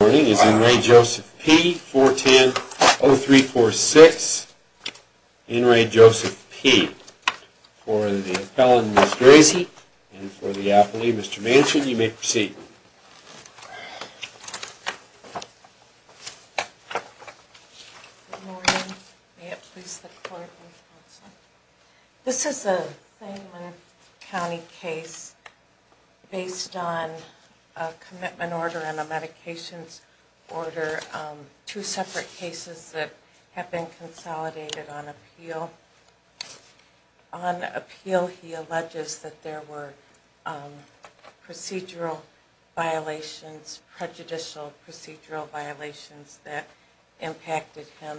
Morning is in re Joseph P. 410-0346. In re Joseph P. For the appellant, Ms. Gracie, and for the appellee, Mr. Manchin, you may proceed. Good morning. May it please the court and counsel. This is a County case based on a commitment order and a medications order, two separate cases that have been consolidated on appeal. On appeal, he alleges that there were procedural violations, prejudicial procedural violations that impacted him.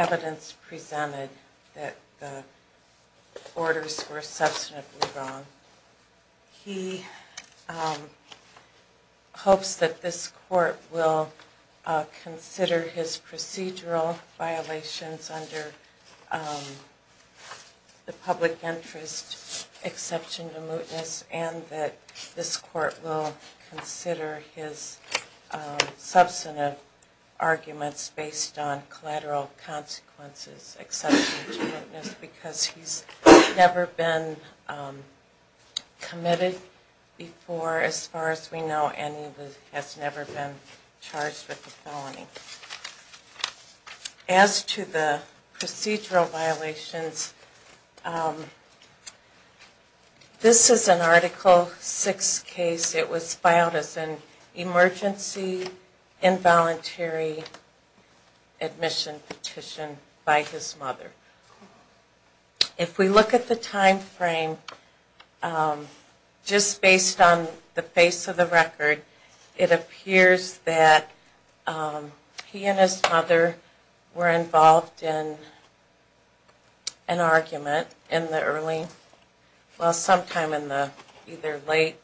It was presented that the orders were substantively wrong. He hopes that this court will consider his procedural violations under the public interest exception to mootness and that this court will consider his substantive arguments based on collateral consequences, exception to mootness, because he's never been committed before, as far as we know, and he has never been charged with a felony. As to the procedural violations, this is an article six case. It was filed as an emergency involuntary admission petition by his mother. If we look at the time frame, just based on the face of the record, it appears that he and his mother were involved in an argument in the early, well sometime in the either late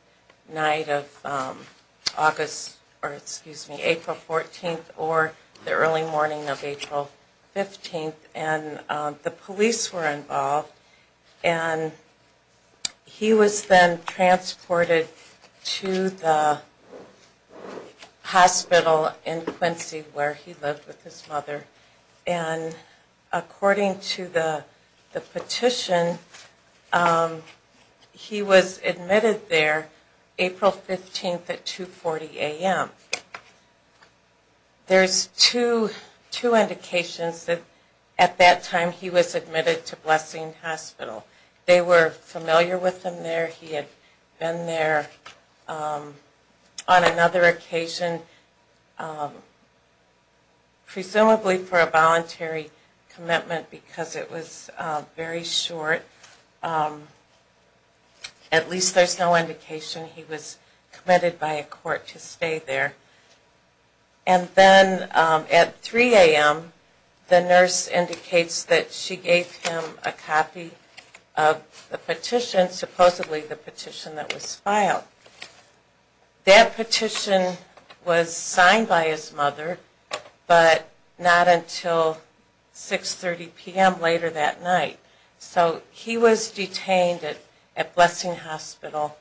night of August, or excuse me, April 14th, or the early morning of April 15th. And the police were involved, and he was then transported to the hospital in Quincy where he lived with his mother. And according to the petition, he was admitted there April 15th at 2.40 AM. There's two indications that at that time he was admitted to Blessing Hospital. They were familiar with him there. He had been there on another occasion, presumably for a voluntary commitment because it was very short. At least there's no indication he was committed by a court to stay there. And then at 3 AM, the nurse indicates that she gave him a copy of the petition, supposedly the petition that was filed. And that petition was signed by his mother, but not until 6.30 PM later that night. So he was detained at Blessing Hospital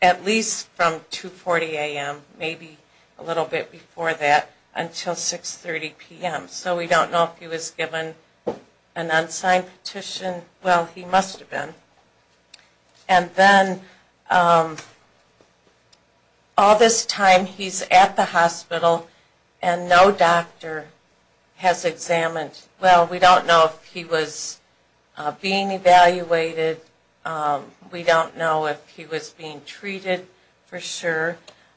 at least from 2.40 AM, maybe a little bit before that, until 6.30 PM. So we don't know if he was given an unsigned petition. Well, he must have been. And then all this time he's at the hospital and no doctor has examined. Well, we don't know if he was being evaluated. We don't know if he was being treated for sure.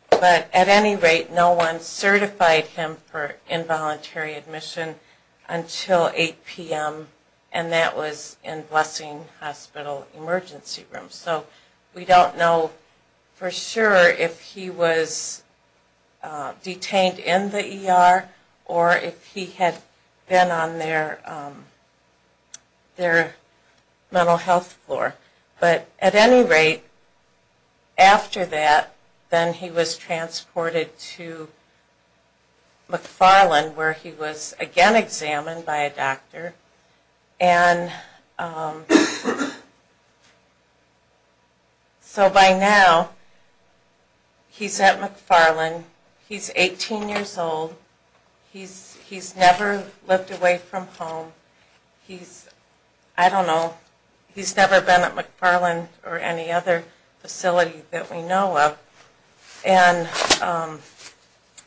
But at any rate, no one certified him for involuntary admission until 8 PM, and that was in Blessing Hospital emergency room. So we don't know for sure if he was detained in the ER or if he had been on their mental health floor. But at any rate, after that, then he was transported to McFarland where he was again examined by a doctor. And so by now he's at McFarland. He's 18 years old. He's never lived away from home. He's, I don't know, he's never been at McFarland or any other facility that we know of. And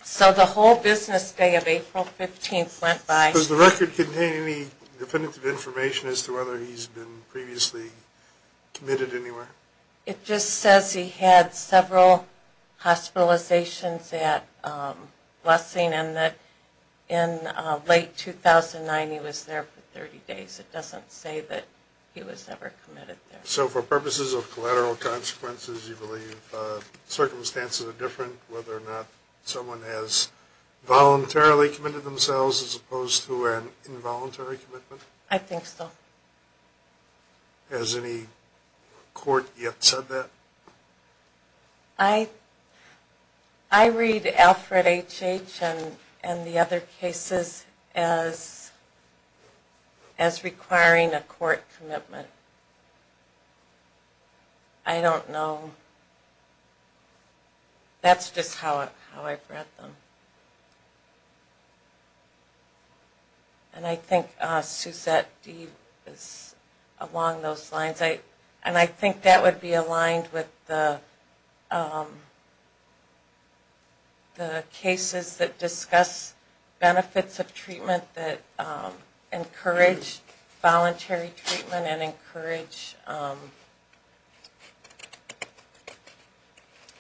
so the whole business day of April 15th went by. Does the record contain any definitive information as to whether he's been previously committed anywhere? It just says he had several hospitalizations at Blessing and that in late 2009 he was there for 30 days. It doesn't say that he was ever committed there. So for purposes of collateral consequences, you believe circumstances are different, whether or not someone has voluntarily committed themselves as opposed to an involuntary commitment? I think so. Has any court yet said that? I read Alfred H.H. and the other cases as requiring a court commitment. I don't know. That's just how I've read them. And I think Suzette D is along those lines. And I think that would be aligned with the cases that discuss benefits of treatment that encourage voluntary treatment and encourage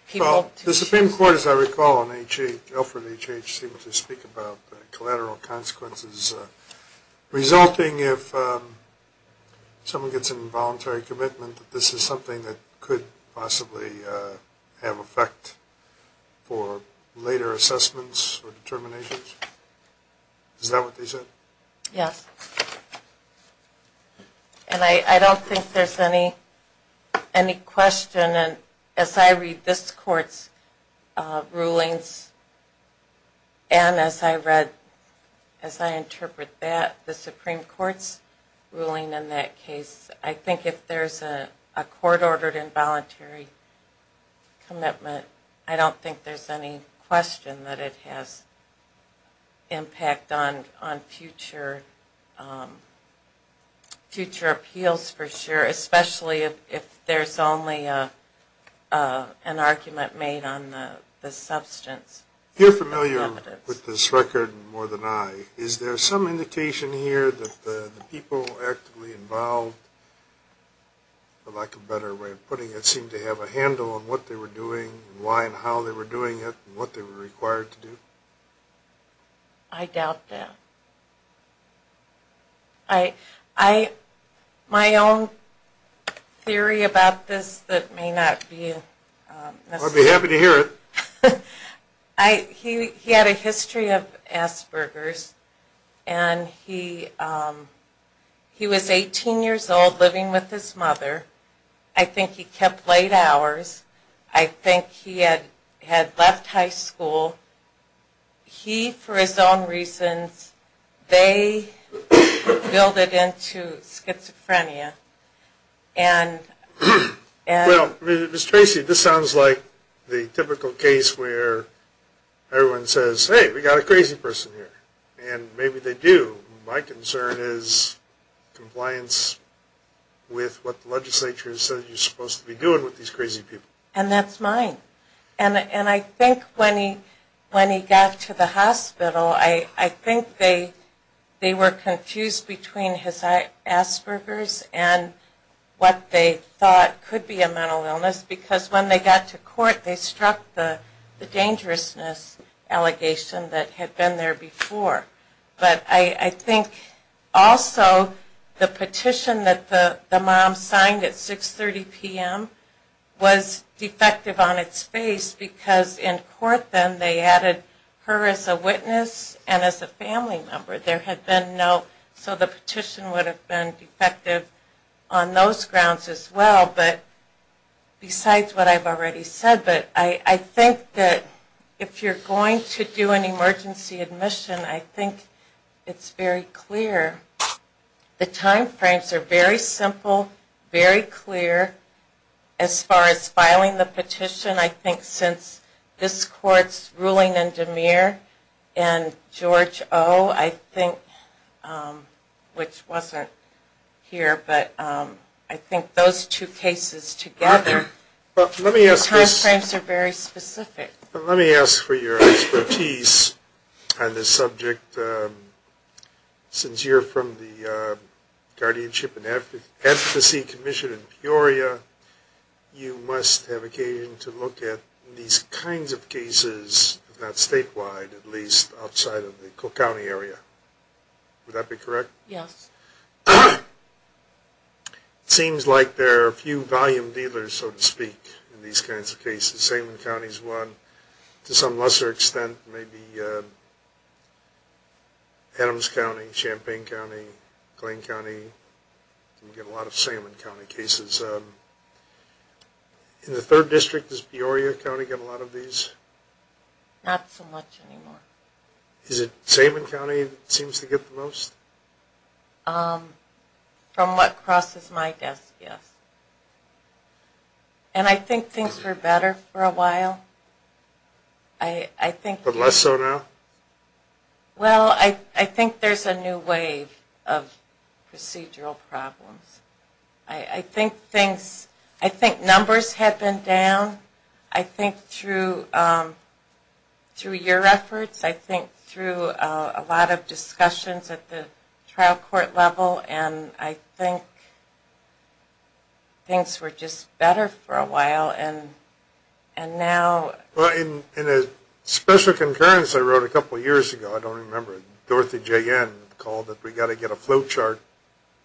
people. The Supreme Court, as I recall, and Alfred H.H. seem to speak about collateral consequences resulting if someone gets an involuntary commitment, this is something that could possibly have effect for later assessments or determinations. Is that what they said? Yes. And I don't think there's any question. And as I read this court's rulings and as I read, as I interpret that, the Supreme Court's ruling in that case, I think if there's a court-ordered involuntary commitment, I don't think there's any question that it has impact on future appeals for sure, especially if there's only an argument made on the substance. You're familiar with this record more than I. Is there some indication here that the people actively involved, for lack of a better way of putting it, seemed to have a handle on what they were doing, why and how they were doing it, and what they were required to do? I doubt that. My own theory about this that may not be necessary. I'd be happy to hear it. He had a history of Asperger's and he was 18 years old living with his mother. I think he kept late hours. I think he had left high school. He, for his own reasons, they built it into schizophrenia. Well, Ms. Tracy, this sounds like the typical case where everyone says, hey, we got a crazy person here. And maybe they do. My concern is compliance with what the legislature says you're supposed to be doing with these crazy people. And that's mine. And I think when he got to the hospital, I think they were confused between his Asperger's and what they thought could be a mental illness. Because when they got to court, they struck the dangerousness allegation that had been there before. But I think also the petition that the mom signed at 6.30 PM was defective on its face because in court then, they added her as a witness and as a family member. There had been no. So the petition would have been defective on those grounds as well. But besides what I've already said, but I think that if you're going to do an emergency admission, I think it's very clear. The time frames are very simple, very clear. As far as filing the petition, I think since this court's ruling in DeMere and George O, I think, which wasn't here, but I think those two cases together, the time frames are very specific. Let me ask for your expertise on this subject. Since you're from the Guardianship and Advocacy Commission in Peoria, you must have occasion to look at these kinds of cases, not statewide, at least outside of the Cook County area. Would that be correct? Yes. It seems like there are a few volume dealers, so to speak, in these kinds of cases. Salmon County is one. To some lesser extent, maybe Adams County, Champaign County, Glane County. We get a lot of Salmon County cases. In the third district, does Peoria County get a lot of these? Not so much anymore. Is it Salmon County that seems to get the most? From what crosses my desk, yes. And I think things were better for a while. I think... But less so now? Well, I think there's a new wave of procedural problems. I think numbers have been down. I think through your efforts, I think through a lot of discussions at the trial court level, and I think things were just better for a while. And now... Well, in a special concurrence I wrote a couple years ago, I don't remember, Dorothy Jayen called it, we got to get a flow chart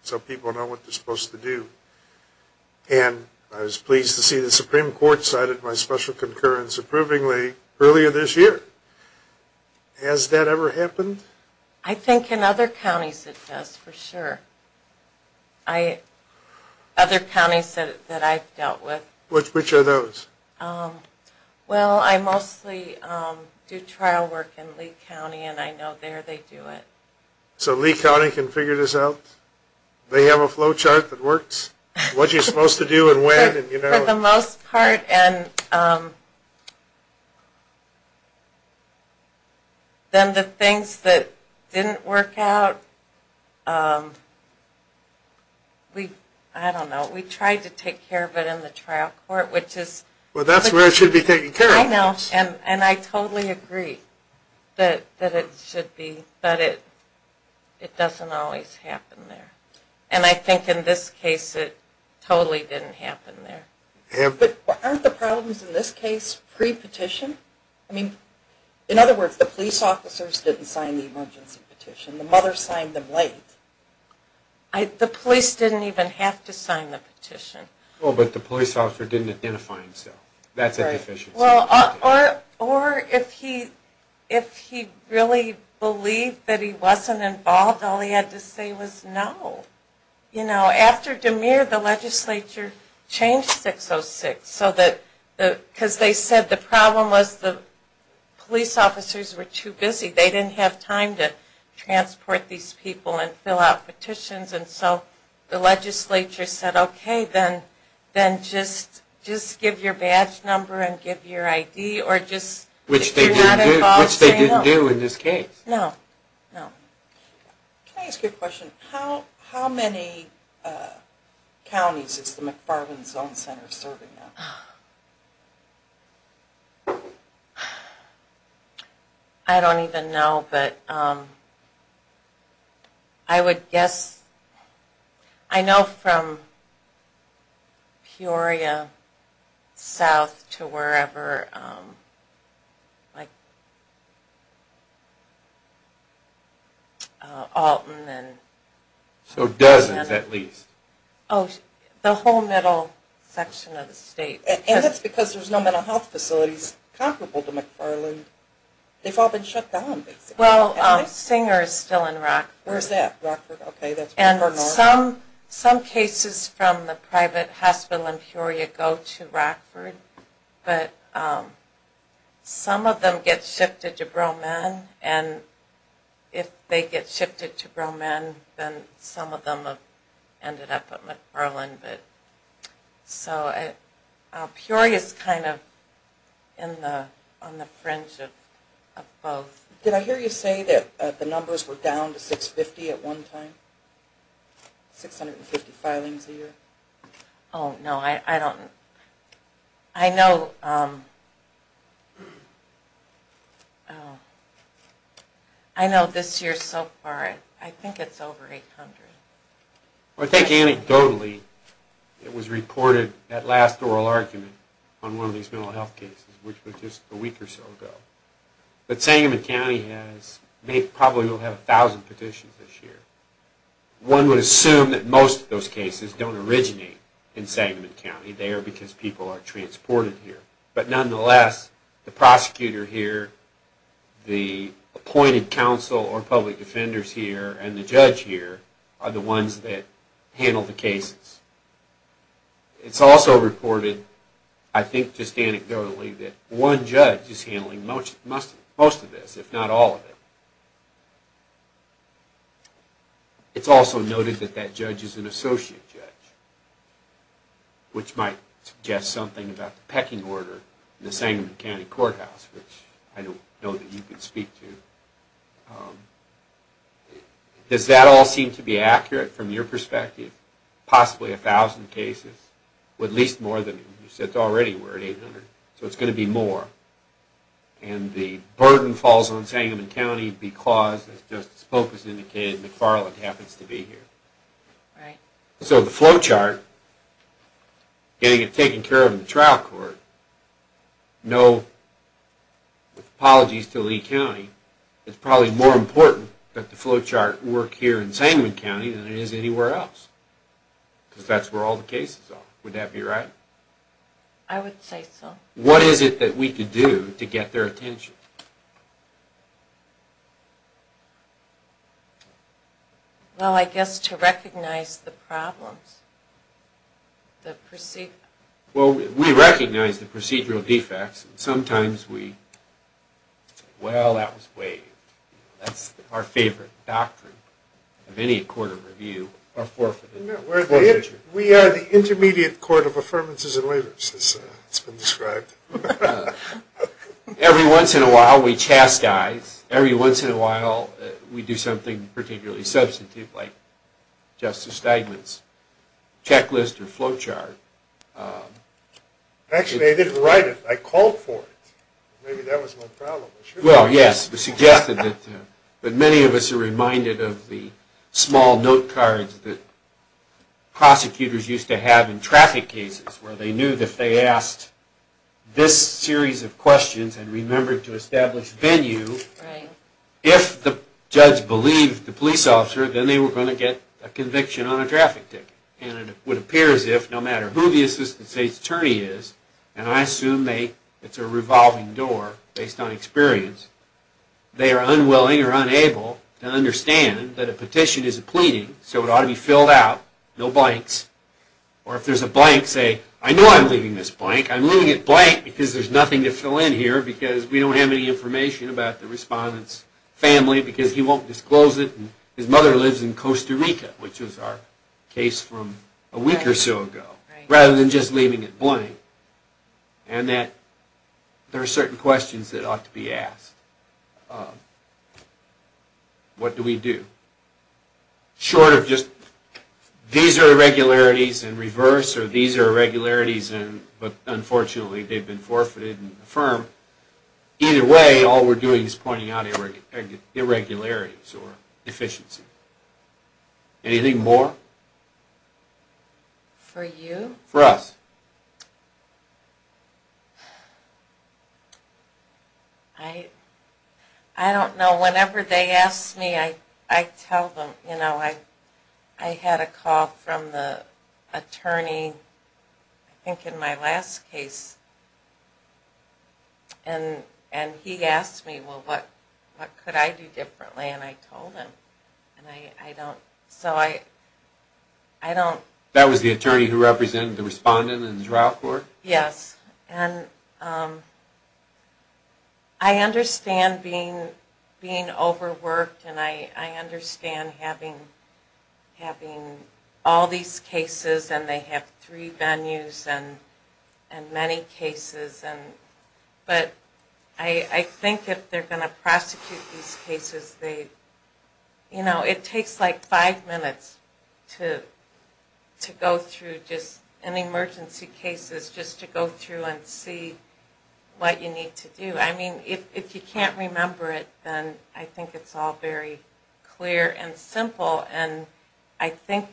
so people know what they're supposed to do. And I was pleased to see the Supreme Court cited my special concurrence approvingly earlier this year. Has that ever happened? I think in other counties it does, for sure. I... Other counties that I've dealt with. Which are those? Well, I mostly do trial work in Lee County, and I know there they do it. So Lee County can figure this out? They have a flow chart that works? What you're supposed to do and when? For the most part. And then the things that didn't work out, I don't know, we tried to take care of it in the trial court, which is... Well, that's where it should be taken care of. I know, and I totally agree that it should be, but it doesn't always happen there. And I think in this case it totally didn't happen there. But aren't the problems in this case pre-petition? I mean, in other words, the police officers didn't sign the emergency petition, the mother signed them late. The police didn't even have to sign the petition. Well, but the police officer didn't identify himself. That's a deficiency. Well, or if he really believed that he wasn't involved, all he had to say was no. You know, after DeMere, the legislature changed 606, so that, because they said the problem was the police officers were too busy. They didn't have time to transport these people and fill out petitions, and so the legislature said, okay, then just give your badge number and give your ID, or just do not involve saying no. Which they didn't do in this case. No, no. Can I ask you a question? How many counties is the McFarland Zone Center serving now? I don't even know, but... I would guess, I know from Peoria south to wherever, like Alton and... So dozens at least. Oh, the whole middle section of the state. And that's because there's no mental health facilities comparable to McFarland. They've all been shut down, basically. Well, Singer's still in Rockford. Where's that, Rockford? Okay, that's Rockford North. And some cases from the private hospital in Peoria go to Rockford, but some of them get shifted to Broman, and if they get shifted to Broman, then some of them have ended up at McFarland, but so Peoria's kind of on the fringe of both. Did I hear you say that the numbers were down to 650 at one time? 650 filings a year? Oh, no, I don't... I know this year so far, I think it's over 800. Well, I think anecdotally, it was reported, that last oral argument on one of these mental health cases, which was just a week or so ago. But Sangamon County probably will have a thousand petitions this year. One would assume that most of those cases don't originate in Sangamon County. They are because people are transported here. But nonetheless, the prosecutor here, the appointed counsel or public defenders here, and the judge here are the ones that handle the cases. It's also reported, I think just anecdotally, that one judge is handling most of this, if not all of it. It's also noted that that judge is an associate judge, which might suggest something about the pecking order in the Sangamon County Courthouse, which I don't know that you could speak to. Does that all seem to be accurate from your perspective? Possibly a thousand cases, but at least more than you said already were at 800. So it's going to be more. And the burden falls on Sangamon County because, as Justice Polk has indicated, McFarland happens to be here. So the flowchart, getting it taken care of in the trial court, no apologies to Lee County, it's probably more important that the flowchart work here in Sangamon County than it is anywhere else. Because that's where all the cases are. Would that be right? I would say so. What is it that we could do to get their attention? Well, I guess to recognize the problems. Well, we recognize the procedural defects. Sometimes we, well, that was waived. That's our favorite doctrine of any court of review. No, we are the intermediate court of affirmances and waivers, as it's been described. Every once in a while, we chastise. Every once in a while, we do something particularly substantive, like Justice Steigman's checklist or flowchart. Actually, I didn't write it. I called for it. Maybe that was my problem. Well, yes, it was suggested. But many of us are reminded of the small note cards that prosecutors used to have in traffic cases, where they knew that if they asked this series of questions and remembered to establish venue, if the judge believed the police officer, then they were going to get a conviction on a traffic ticket. And it would appear as if, no matter who the assistant state's attorney is, and I assume it's a revolving door based on experience, they are unwilling or unable to understand that a petition is a pleading, so it ought to be filled out, no blanks. Or if there's a blank, say, I know I'm leaving this blank. I'm leaving it blank because there's nothing to fill in here because we don't have any information about the respondent's family because he won't disclose it. And his mother lives in Costa Rica, which was our case from a week or so ago, rather than just leaving it blank. And that there are certain questions that ought to be asked. What do we do? Short of just, these are irregularities in reverse, or these are irregularities in, but unfortunately, they've been forfeited and affirmed. Either way, all we're doing is pointing out irregularities or deficiency. Anything more? For you? For us. I don't know. Whenever they ask me, I tell them. I had a call from the attorney, I think in my last case, and he asked me, well, what could I do differently? And I told him. And I don't, so I don't. That was the attorney who represented the respondent in the trial court? Yes. And I understand being overworked, and I understand having all these cases, and they have three venues, and many cases. But I think if they're going to prosecute these cases, it takes like five minutes to go through just, in emergency cases, just to go through and see what you need to do. I mean, if you can't remember it, then I think it's all very clear and simple. And I think,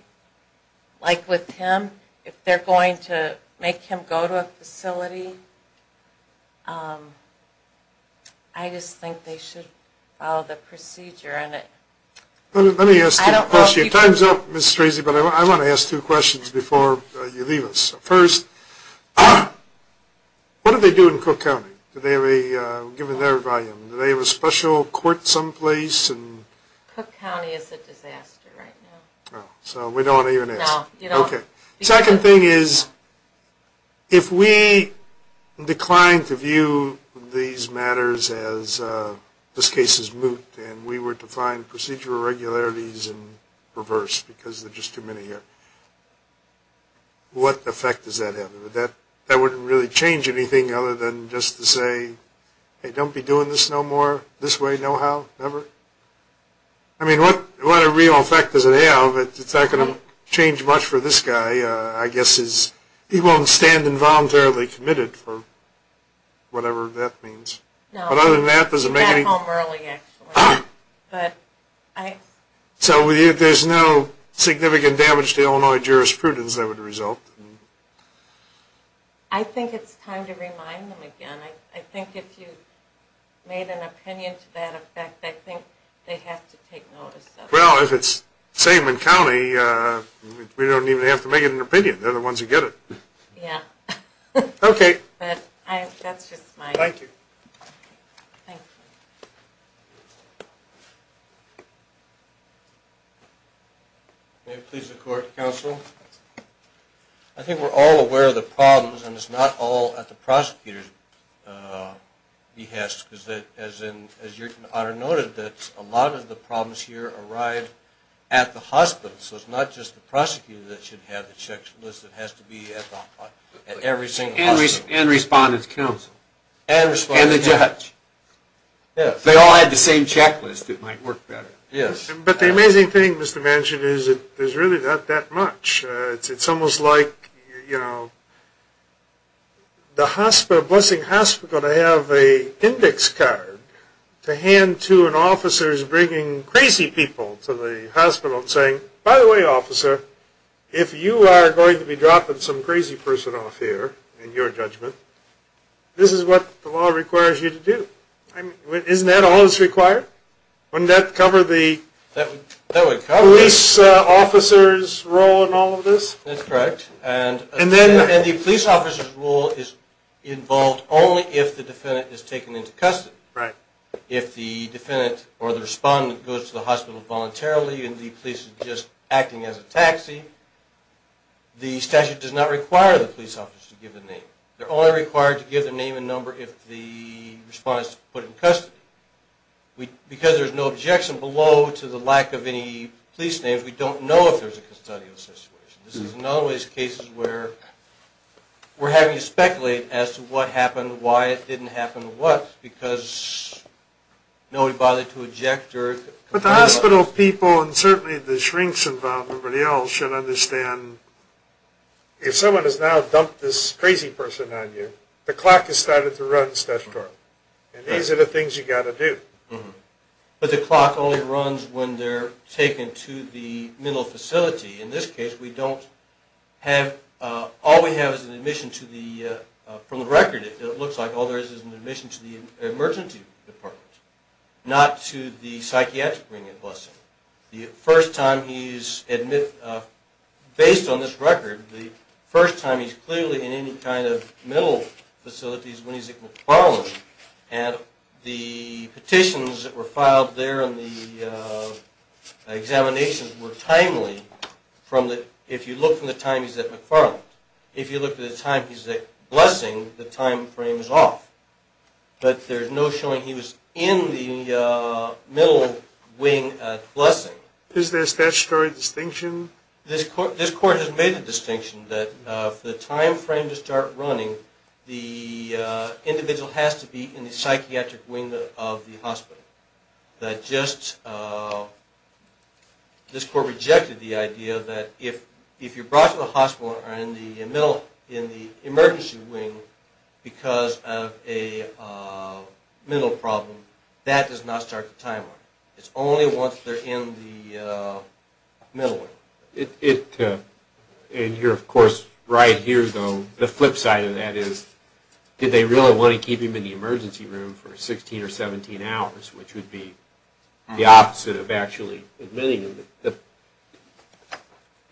like with him, if they're going to make him go to a facility, I just think they should follow the procedure. Let me ask you a question. Time's up, Ms. Strasey, but I want to ask two questions before you leave us. First, what do they do in Cook County? Do they have a, given their volume, do they have a special court someplace? Cook County is a disaster right now. Oh, so we don't even ask. No, you don't. OK. Second thing is, if we decline to view these matters as, this case is moot, and we were to find procedural regularities in reverse, because there's just too many here, what effect does that have? That wouldn't really change anything other than just to say, hey, don't be doing this no more, this way, no how, never. I mean, what real effect does it have? It's not going to change much for this guy, I guess, he won't stand involuntarily committed for whatever that means. No, he's back home early, actually. But I... So there's no significant damage to Illinois jurisprudence that would result? I think it's time to remind them again. I think if you made an opinion to that effect, I think they have to take notice of it. Well, if it's same in county, we don't even have to make an opinion, they're the ones who get it. Yeah. OK. That's just my... Thank you. Thank you. May it please the court, counsel. I think we're all aware of the problems, and it's not all at the prosecutor's behest, because as your honor noted, that a lot of the problems here arrived at the hospital. So it's not just the prosecutor that should have the checklist, it has to be at every single hospital. And respondent's counsel. And respondent's counsel. And the judge. If they all had the same checklist, it might work better. Yes. But the amazing thing, Mr. Manchin, is that there's really not that much. It's almost like, you know, the hospital, Blessing Hospital, they have a index card to hand to an officer who's bringing crazy people to the hospital and saying, by the way, officer, if you are going to be dropping some crazy person off here, in your judgment, this is what the law requires you to do. Isn't that all that's required? Wouldn't that cover the police officer's role in all of this? That's correct. And the police officer's role is involved only if the defendant is taken into custody. Right. If the defendant or the respondent goes to the hospital voluntarily and the police is just acting as a taxi, the police officer to give the name. They're only required to give the name and number if the respondent is put in custody. Because there's no objection below to the lack of any police names, we don't know if there's a custodial situation. This is another one of these cases where we're having to speculate as to what happened, why it didn't happen, what, because nobody bothered to object. But the hospital people, and certainly the shrinks involved, everybody else, should understand if someone has now dumped this crazy person on you, the clock has started to run statutorily. And these are the things you got to do. But the clock only runs when they're taken to the mental facility. In this case, all we have is an admission from the record. It looks like all there is is an admission to the emergency department, not to the psychiatric wing at Bussing. The first time he's, based on this record, the first time he's clearly in any kind of mental facility is when he's at McFarland. And the petitions that were filed there and the examinations were timely from the, if you look from the time he's at McFarland, if you look at the time he's at Bussing, the time frame is off. But there's no showing he was in the middle wing at Bussing. Is there a statutory distinction? This court has made the distinction that for the time frame to start running, the individual has to be in the psychiatric wing of the hospital. That just, this court rejected the idea that if you're brought to the hospital and are in the middle, in the emergency wing because of a mental problem, that does not start the timeline. It's only once they're in the middle wing. It, and you're of course, right here though, the flip side of that is, did they really want to keep him in the emergency room for 16 or 17 hours, which would be the opposite of actually admitting him.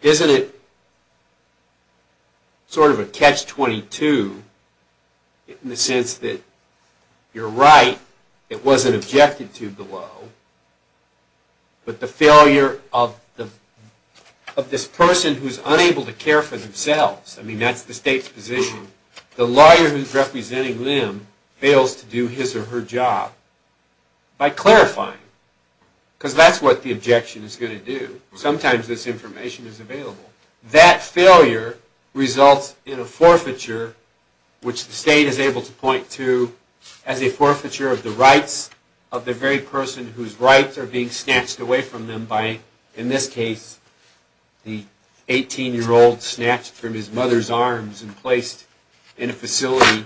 Isn't it sort of a catch-22 in the sense that you're right, it wasn't objected to below, but the failure of this person who's unable to care for themselves, I mean, that's the state's position, the lawyer who's representing them fails to do his or her job by clarifying, because that's what the objection is going to do. Sometimes this information is available. That failure results in a forfeiture, which the state is able to point to as a forfeiture of the rights of the very person whose rights are being snatched away from them by, in this case, the 18-year-old snatched from his mother's arms and placed in a facility,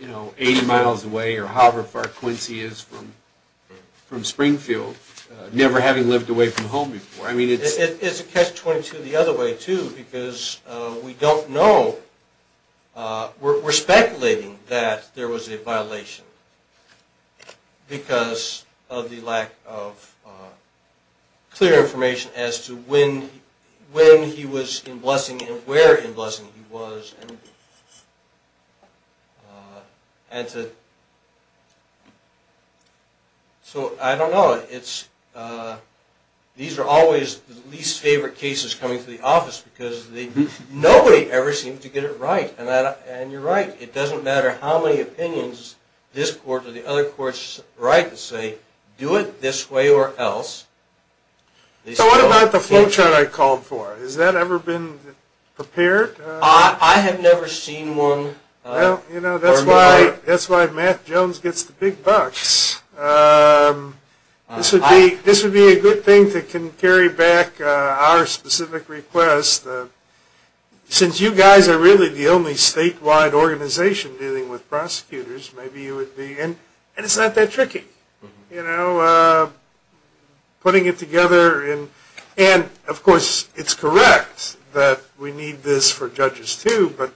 you know, 80 miles away or however far Quincy is from Springfield, never having lived away from home before. I mean, it's a catch-22 the other way too, because we don't know, we're speculating that there was a violation. Because of the lack of clear information as to when he was in Blessing and where in Blessing he was. So I don't know. These are always the least favorite cases coming to the office because nobody ever seems to get it right. And you're right, it doesn't matter how many opinions this court or the other courts write to say, do it this way or else. So what about the flowchart I called for? Has that ever been prepared? I have never seen one. You know, that's why Matt Jones gets the big bucks. This would be a good thing that can carry back our specific request. Since you guys are really the only statewide organization dealing with prosecutors, and it's not that tricky. Putting it together, and of course it's correct that we need this for judges too, but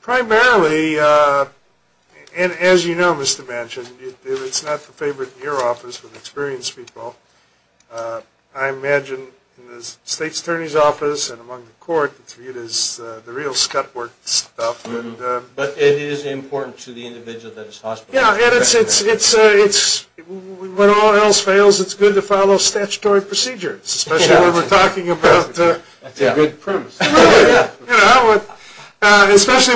primarily, and as you know, Mr. Manchin, it's not the favorite in your office with experienced people. I imagine in the state attorney's office and among the court, it is the real scut work stuff. But it is important to the individual that is hospitalized. Yeah, and when all else fails, it's good to follow statutory procedures, especially when we're talking about... That's a good premise. Especially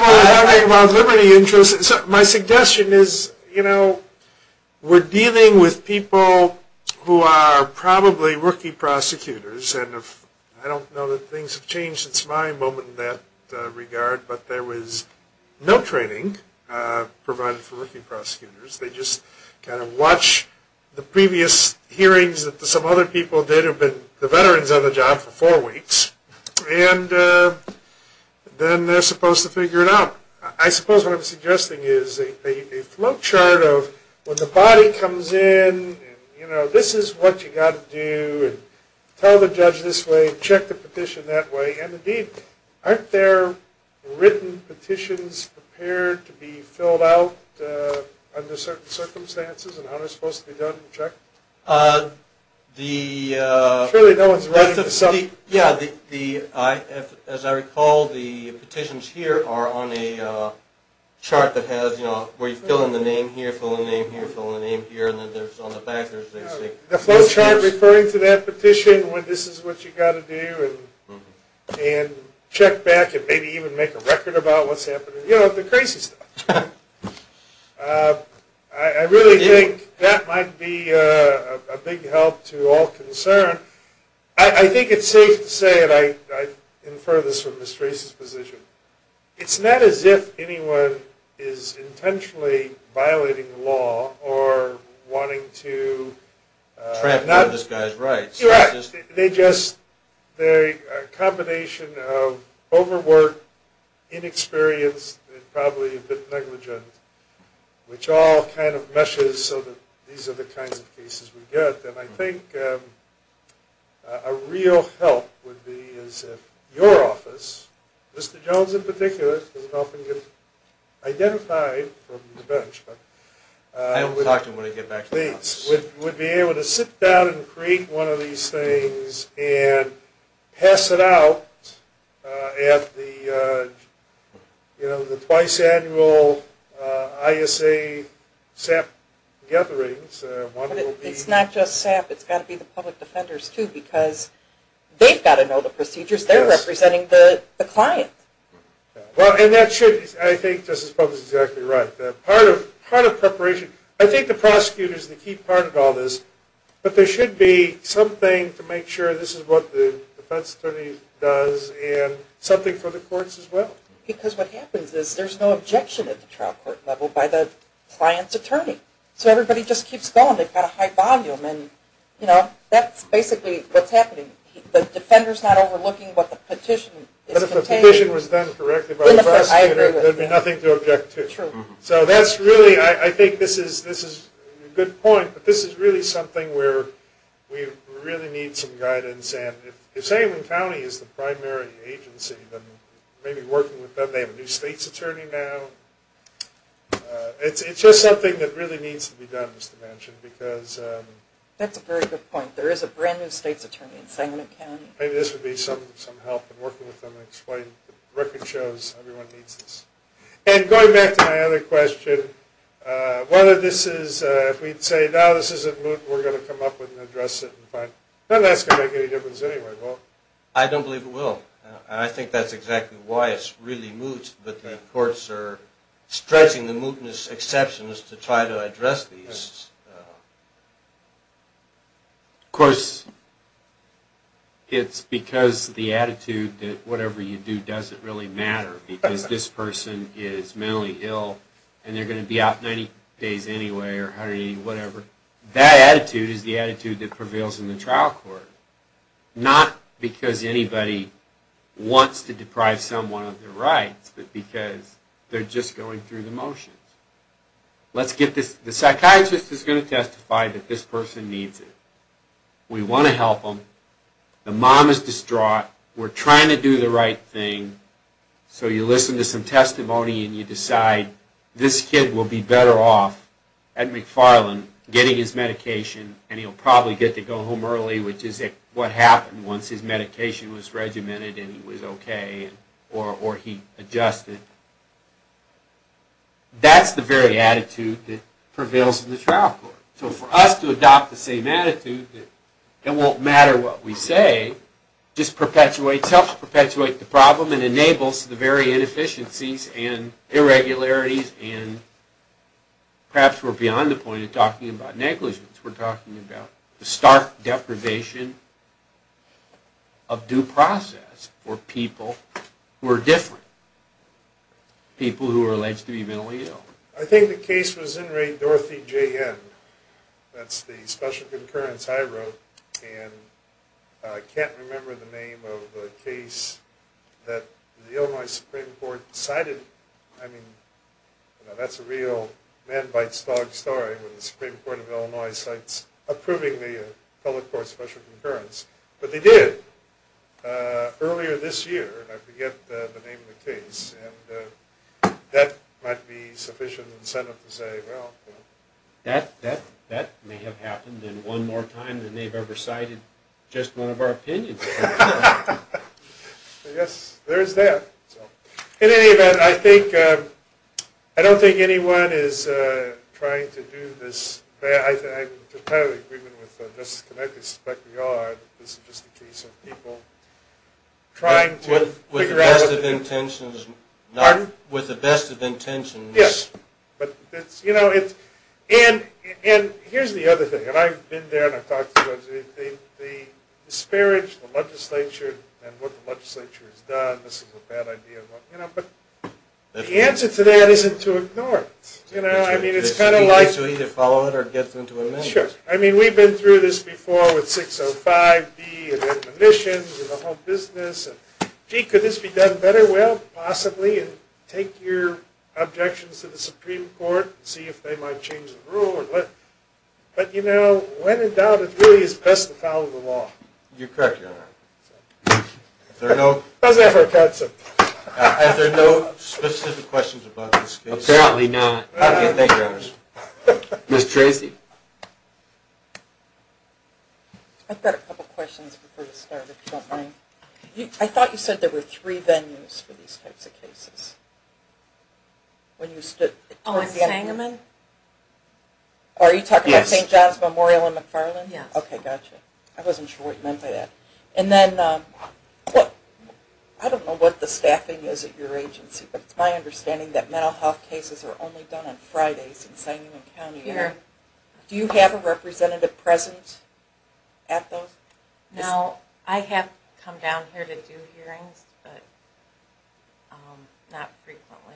when we're talking about liberty interests. My suggestion is, we're dealing with people who are probably rookie prosecutors, and I don't know that things have changed since my moment in that regard, but there was no training provided for rookie prosecutors. They just kind of watch the previous hearings that some other people did have been the veterans on the job for four weeks, and then they're supposed to figure it out. I suppose what I'm suggesting is a flowchart of when the body comes in, this is what you got to do, and tell the judge this way, check the petition that way, and indeed, aren't there written petitions prepared to be filled out under certain circumstances, and how they're supposed to be done and checked? As I recall, the petitions here are on a chart that has, where you fill in the name here, fill in the name here, fill in the name here, and then there's on the back... The flowchart referring to that petition when this is what you got to do, and check back, and maybe even make a record about what's happening, you know, the crazy stuff. I really think that might be a big help to all concerned. I think it's safe to say, and I infer this from Ms. Tracey's position, it's not as if anyone is intentionally violating the law or wanting to... Trap this guy's rights. You're right. They just... They're a combination of overwork, inexperienced, and probably a bit negligent, which all kind of meshes so that these are the kinds of cases we get. And I think a real help would be as if your office, Mr. Jones in particular, doesn't often get identified from the bench, but... I don't talk to him when I get back to the office. Would be able to sit down and create one of these things and pass it out at the twice annual ISA SAP gatherings. It's not just SAP. It's got to be the public defenders too, because they've got to know the procedures. They're representing the client. Well, and that should... I think Justice Publix is exactly right. Part of preparation... I think the prosecutors are the key part of all this, but there should be something to make sure this is what the defense attorney does and something for the courts as well. Because what happens is there's no objection at the trial court level by the client's attorney. So everybody just keeps going. They've got a high volume and that's basically what's happening. The defender's not overlooking what the petition is containing. But if the petition was done correctly by the prosecutor, there'd be nothing to object to. True. So that's really... I think this is a good point, but this is really something where we really need some guidance. And if Sangamon County is the primary agency, then maybe working with them, they have a new state's attorney now. It's just something that really needs to be done, Mr. Manchin, because... That's a very good point. There is a brand new state's attorney in Sangamon County. Maybe this would be some help in working with them and explain the record shows everyone needs this. And going back to my other question, whether this is... If we'd say, no, this isn't moot, we're going to come up with an address and fine. Then that's going to make any difference anyway. I don't believe it will. I think that's exactly why it's really moot, but the courts are stretching the mootness exceptions to try to address these. Of course, it's because the attitude that whatever you do doesn't really matter because this person is mentally ill and they're going to be out 90 days anyway or 180, whatever. That attitude is the attitude that prevails in the trial court. Not because anybody wants to deprive someone of their rights, but because they're just going through the motions. Let's get this... The psychiatrist is going to testify that this person needs it. We want to help them. The mom is distraught. We're trying to do the right thing. So you listen to some testimony and you decide this kid will be better off at McFarland getting his medication and he'll probably get to go home early, which is what happened once his medication was regimented and he was okay or he adjusted. That's the very attitude that prevails in the trial court. So for us to adopt the same attitude that it won't matter what we say just perpetuates, helps perpetuate the problem and enables the very inefficiencies and irregularities and perhaps we're beyond the point of talking about negligence. We're talking about the stark deprivation of due process for people who are different. People who are alleged to be mentally ill. I think the case was in Ray Dorothy J. N. That's the special concurrence I wrote and I can't remember the name of the case that the Illinois Supreme Court decided. I mean, that's a real man bites dog story when the Supreme Court of Illinois cites approving the public court special concurrence, but they did earlier this year and I forget the name of the case and that might be sufficient incentive to say, well, that may have happened in one more time than they've ever cited just one of our opinions. Yes, there is that. In any event, I don't think anyone is trying to do this. I'm in total agreement with Justice Connett, I suspect we are. This is just a case of people trying to figure out- With the best of intentions. Pardon? With the best of intentions. Yes, but here's the other thing and I've been there and I've talked to the legislature. The disparage of the legislature and what the legislature has done, this is a bad idea, but the answer to that isn't to ignore it. I mean, it's kind of like- To either follow it or get them to amend it. Sure, I mean, we've been through this before with 605B and admonitions and the whole business and gee, could this be done better? Well, possibly. Take your objections to the Supreme Court and see if they might change the rule. But when in doubt, it really is best to follow the law. You're correct, Your Honor. Is there a note? I was going to have her cut some. Are there no specific questions about this case? Apparently not. Okay, thank you, Your Honor. Ms. Tracy? I've got a couple questions before we start, if you don't mind. I thought you said there were three venues for these types of cases? When you stood- Oh, in Sangamon? Are you talking about St. John's Memorial in McFarland? Yes. Okay, gotcha. I wasn't sure what you meant by that. And then, I don't know what the staffing is at your agency, but it's my understanding that mental health cases are only done on Fridays in Sangamon County. Do you have a representative present at those? No, I have come down here to do hearings, but not frequently.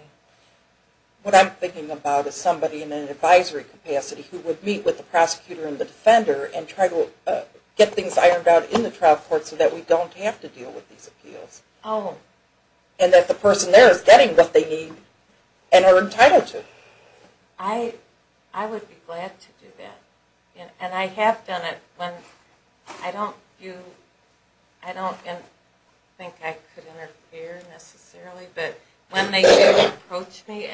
What I'm thinking about is somebody in an advisory capacity who would meet with the prosecutor and the defender and try to get things ironed out in the trial court so that we don't have to deal with these appeals. Oh. And that the person there is getting what they need and are entitled to. I would be glad to do that. And I have done it. I don't think I could interfere, necessarily, but when they did approach me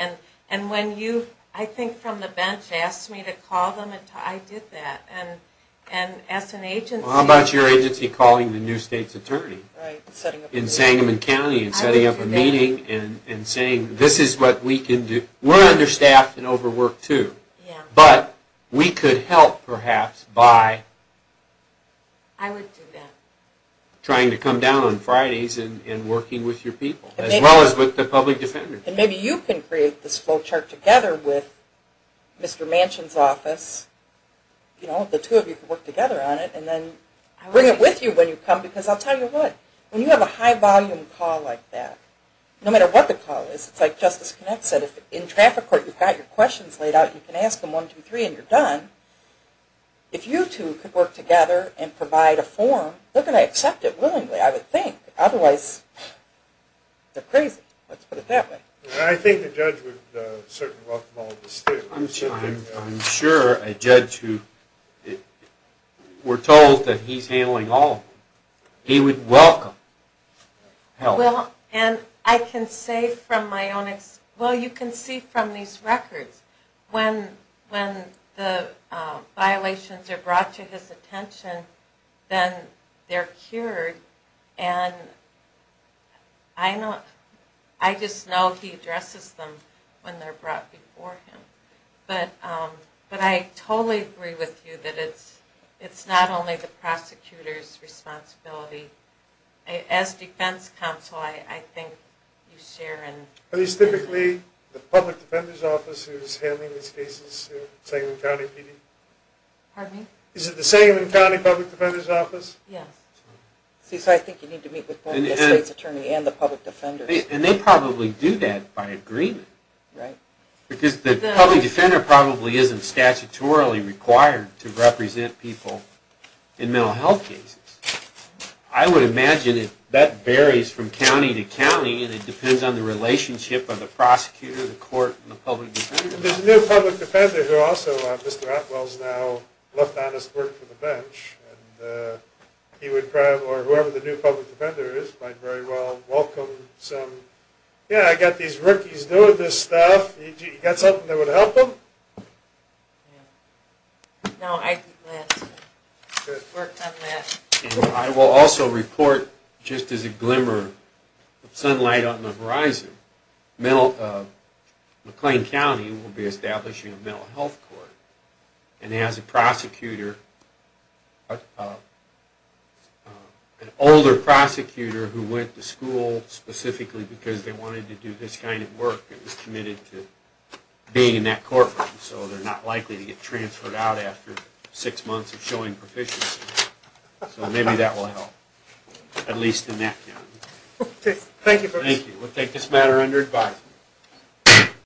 and when you, I think from the bench, asked me to call them, I did that. And as an agency- How about your agency calling the new state's attorney in Sangamon County and setting up a meeting and saying, this is what we can do. We're understaffed and overworked too, but we could help, perhaps, by trying to come down on Fridays and working with your people, as well as with the public defender. And maybe you can create this flowchart together with Mr. Manchin's office, you know, the two of you can work together on it, and then I'll bring it with you when you come, because I'll tell you what, when you have a high volume call like that, no matter what the call is, it's like Justice Connett said, if in traffic court you've got your questions laid out, you can ask them, one, two, three, and you're done. If you two could work together and provide a form, they're going to accept it willingly, I would think. Otherwise, they're crazy. Let's put it that way. I think the judge would certainly welcome all of this too. I'm sure a judge who, if we're told that he's handling all, he would welcome help. Well, and I can say from my own experience, well, you can see from these records, when the violations are brought to his attention, then they're cured. And I just know he addresses them when they're brought before him. But I totally agree with you that it's not only the prosecutor's responsibility. As defense counsel, I think you share in- Are these typically the public defender's office who's handling these cases, the Sangamon County PD? Pardon me? Is it the Sangamon County public defender's office? Yes. See, so I think you need to meet with both the state's attorney and the public defender. And they probably do that by agreement. Right. Because the public defender probably isn't statutorily required to represent people in mental health cases. I would imagine that varies from county to county, and it depends on the relationship of the prosecutor, the court, and the public defender. There's a new public defender who also, Mr. Atwell's now left on his work for the bench, and he would probably, or whoever the new public defender is, might very well welcome some, yeah, I got these rookies doing this stuff. You got something that would help them? No, I think that's it. I will also report, just as a glimmer of sunlight on the horizon, McLean County will be establishing a mental health court. And it has a prosecutor, an older prosecutor who went to school specifically because they wanted to do this kind of work and was committed to being in that courtroom, so they're not likely to get transferred out after six months of showing proficiency. So maybe that will help, at least in that county. Thank you. We'll take this matter under advisement.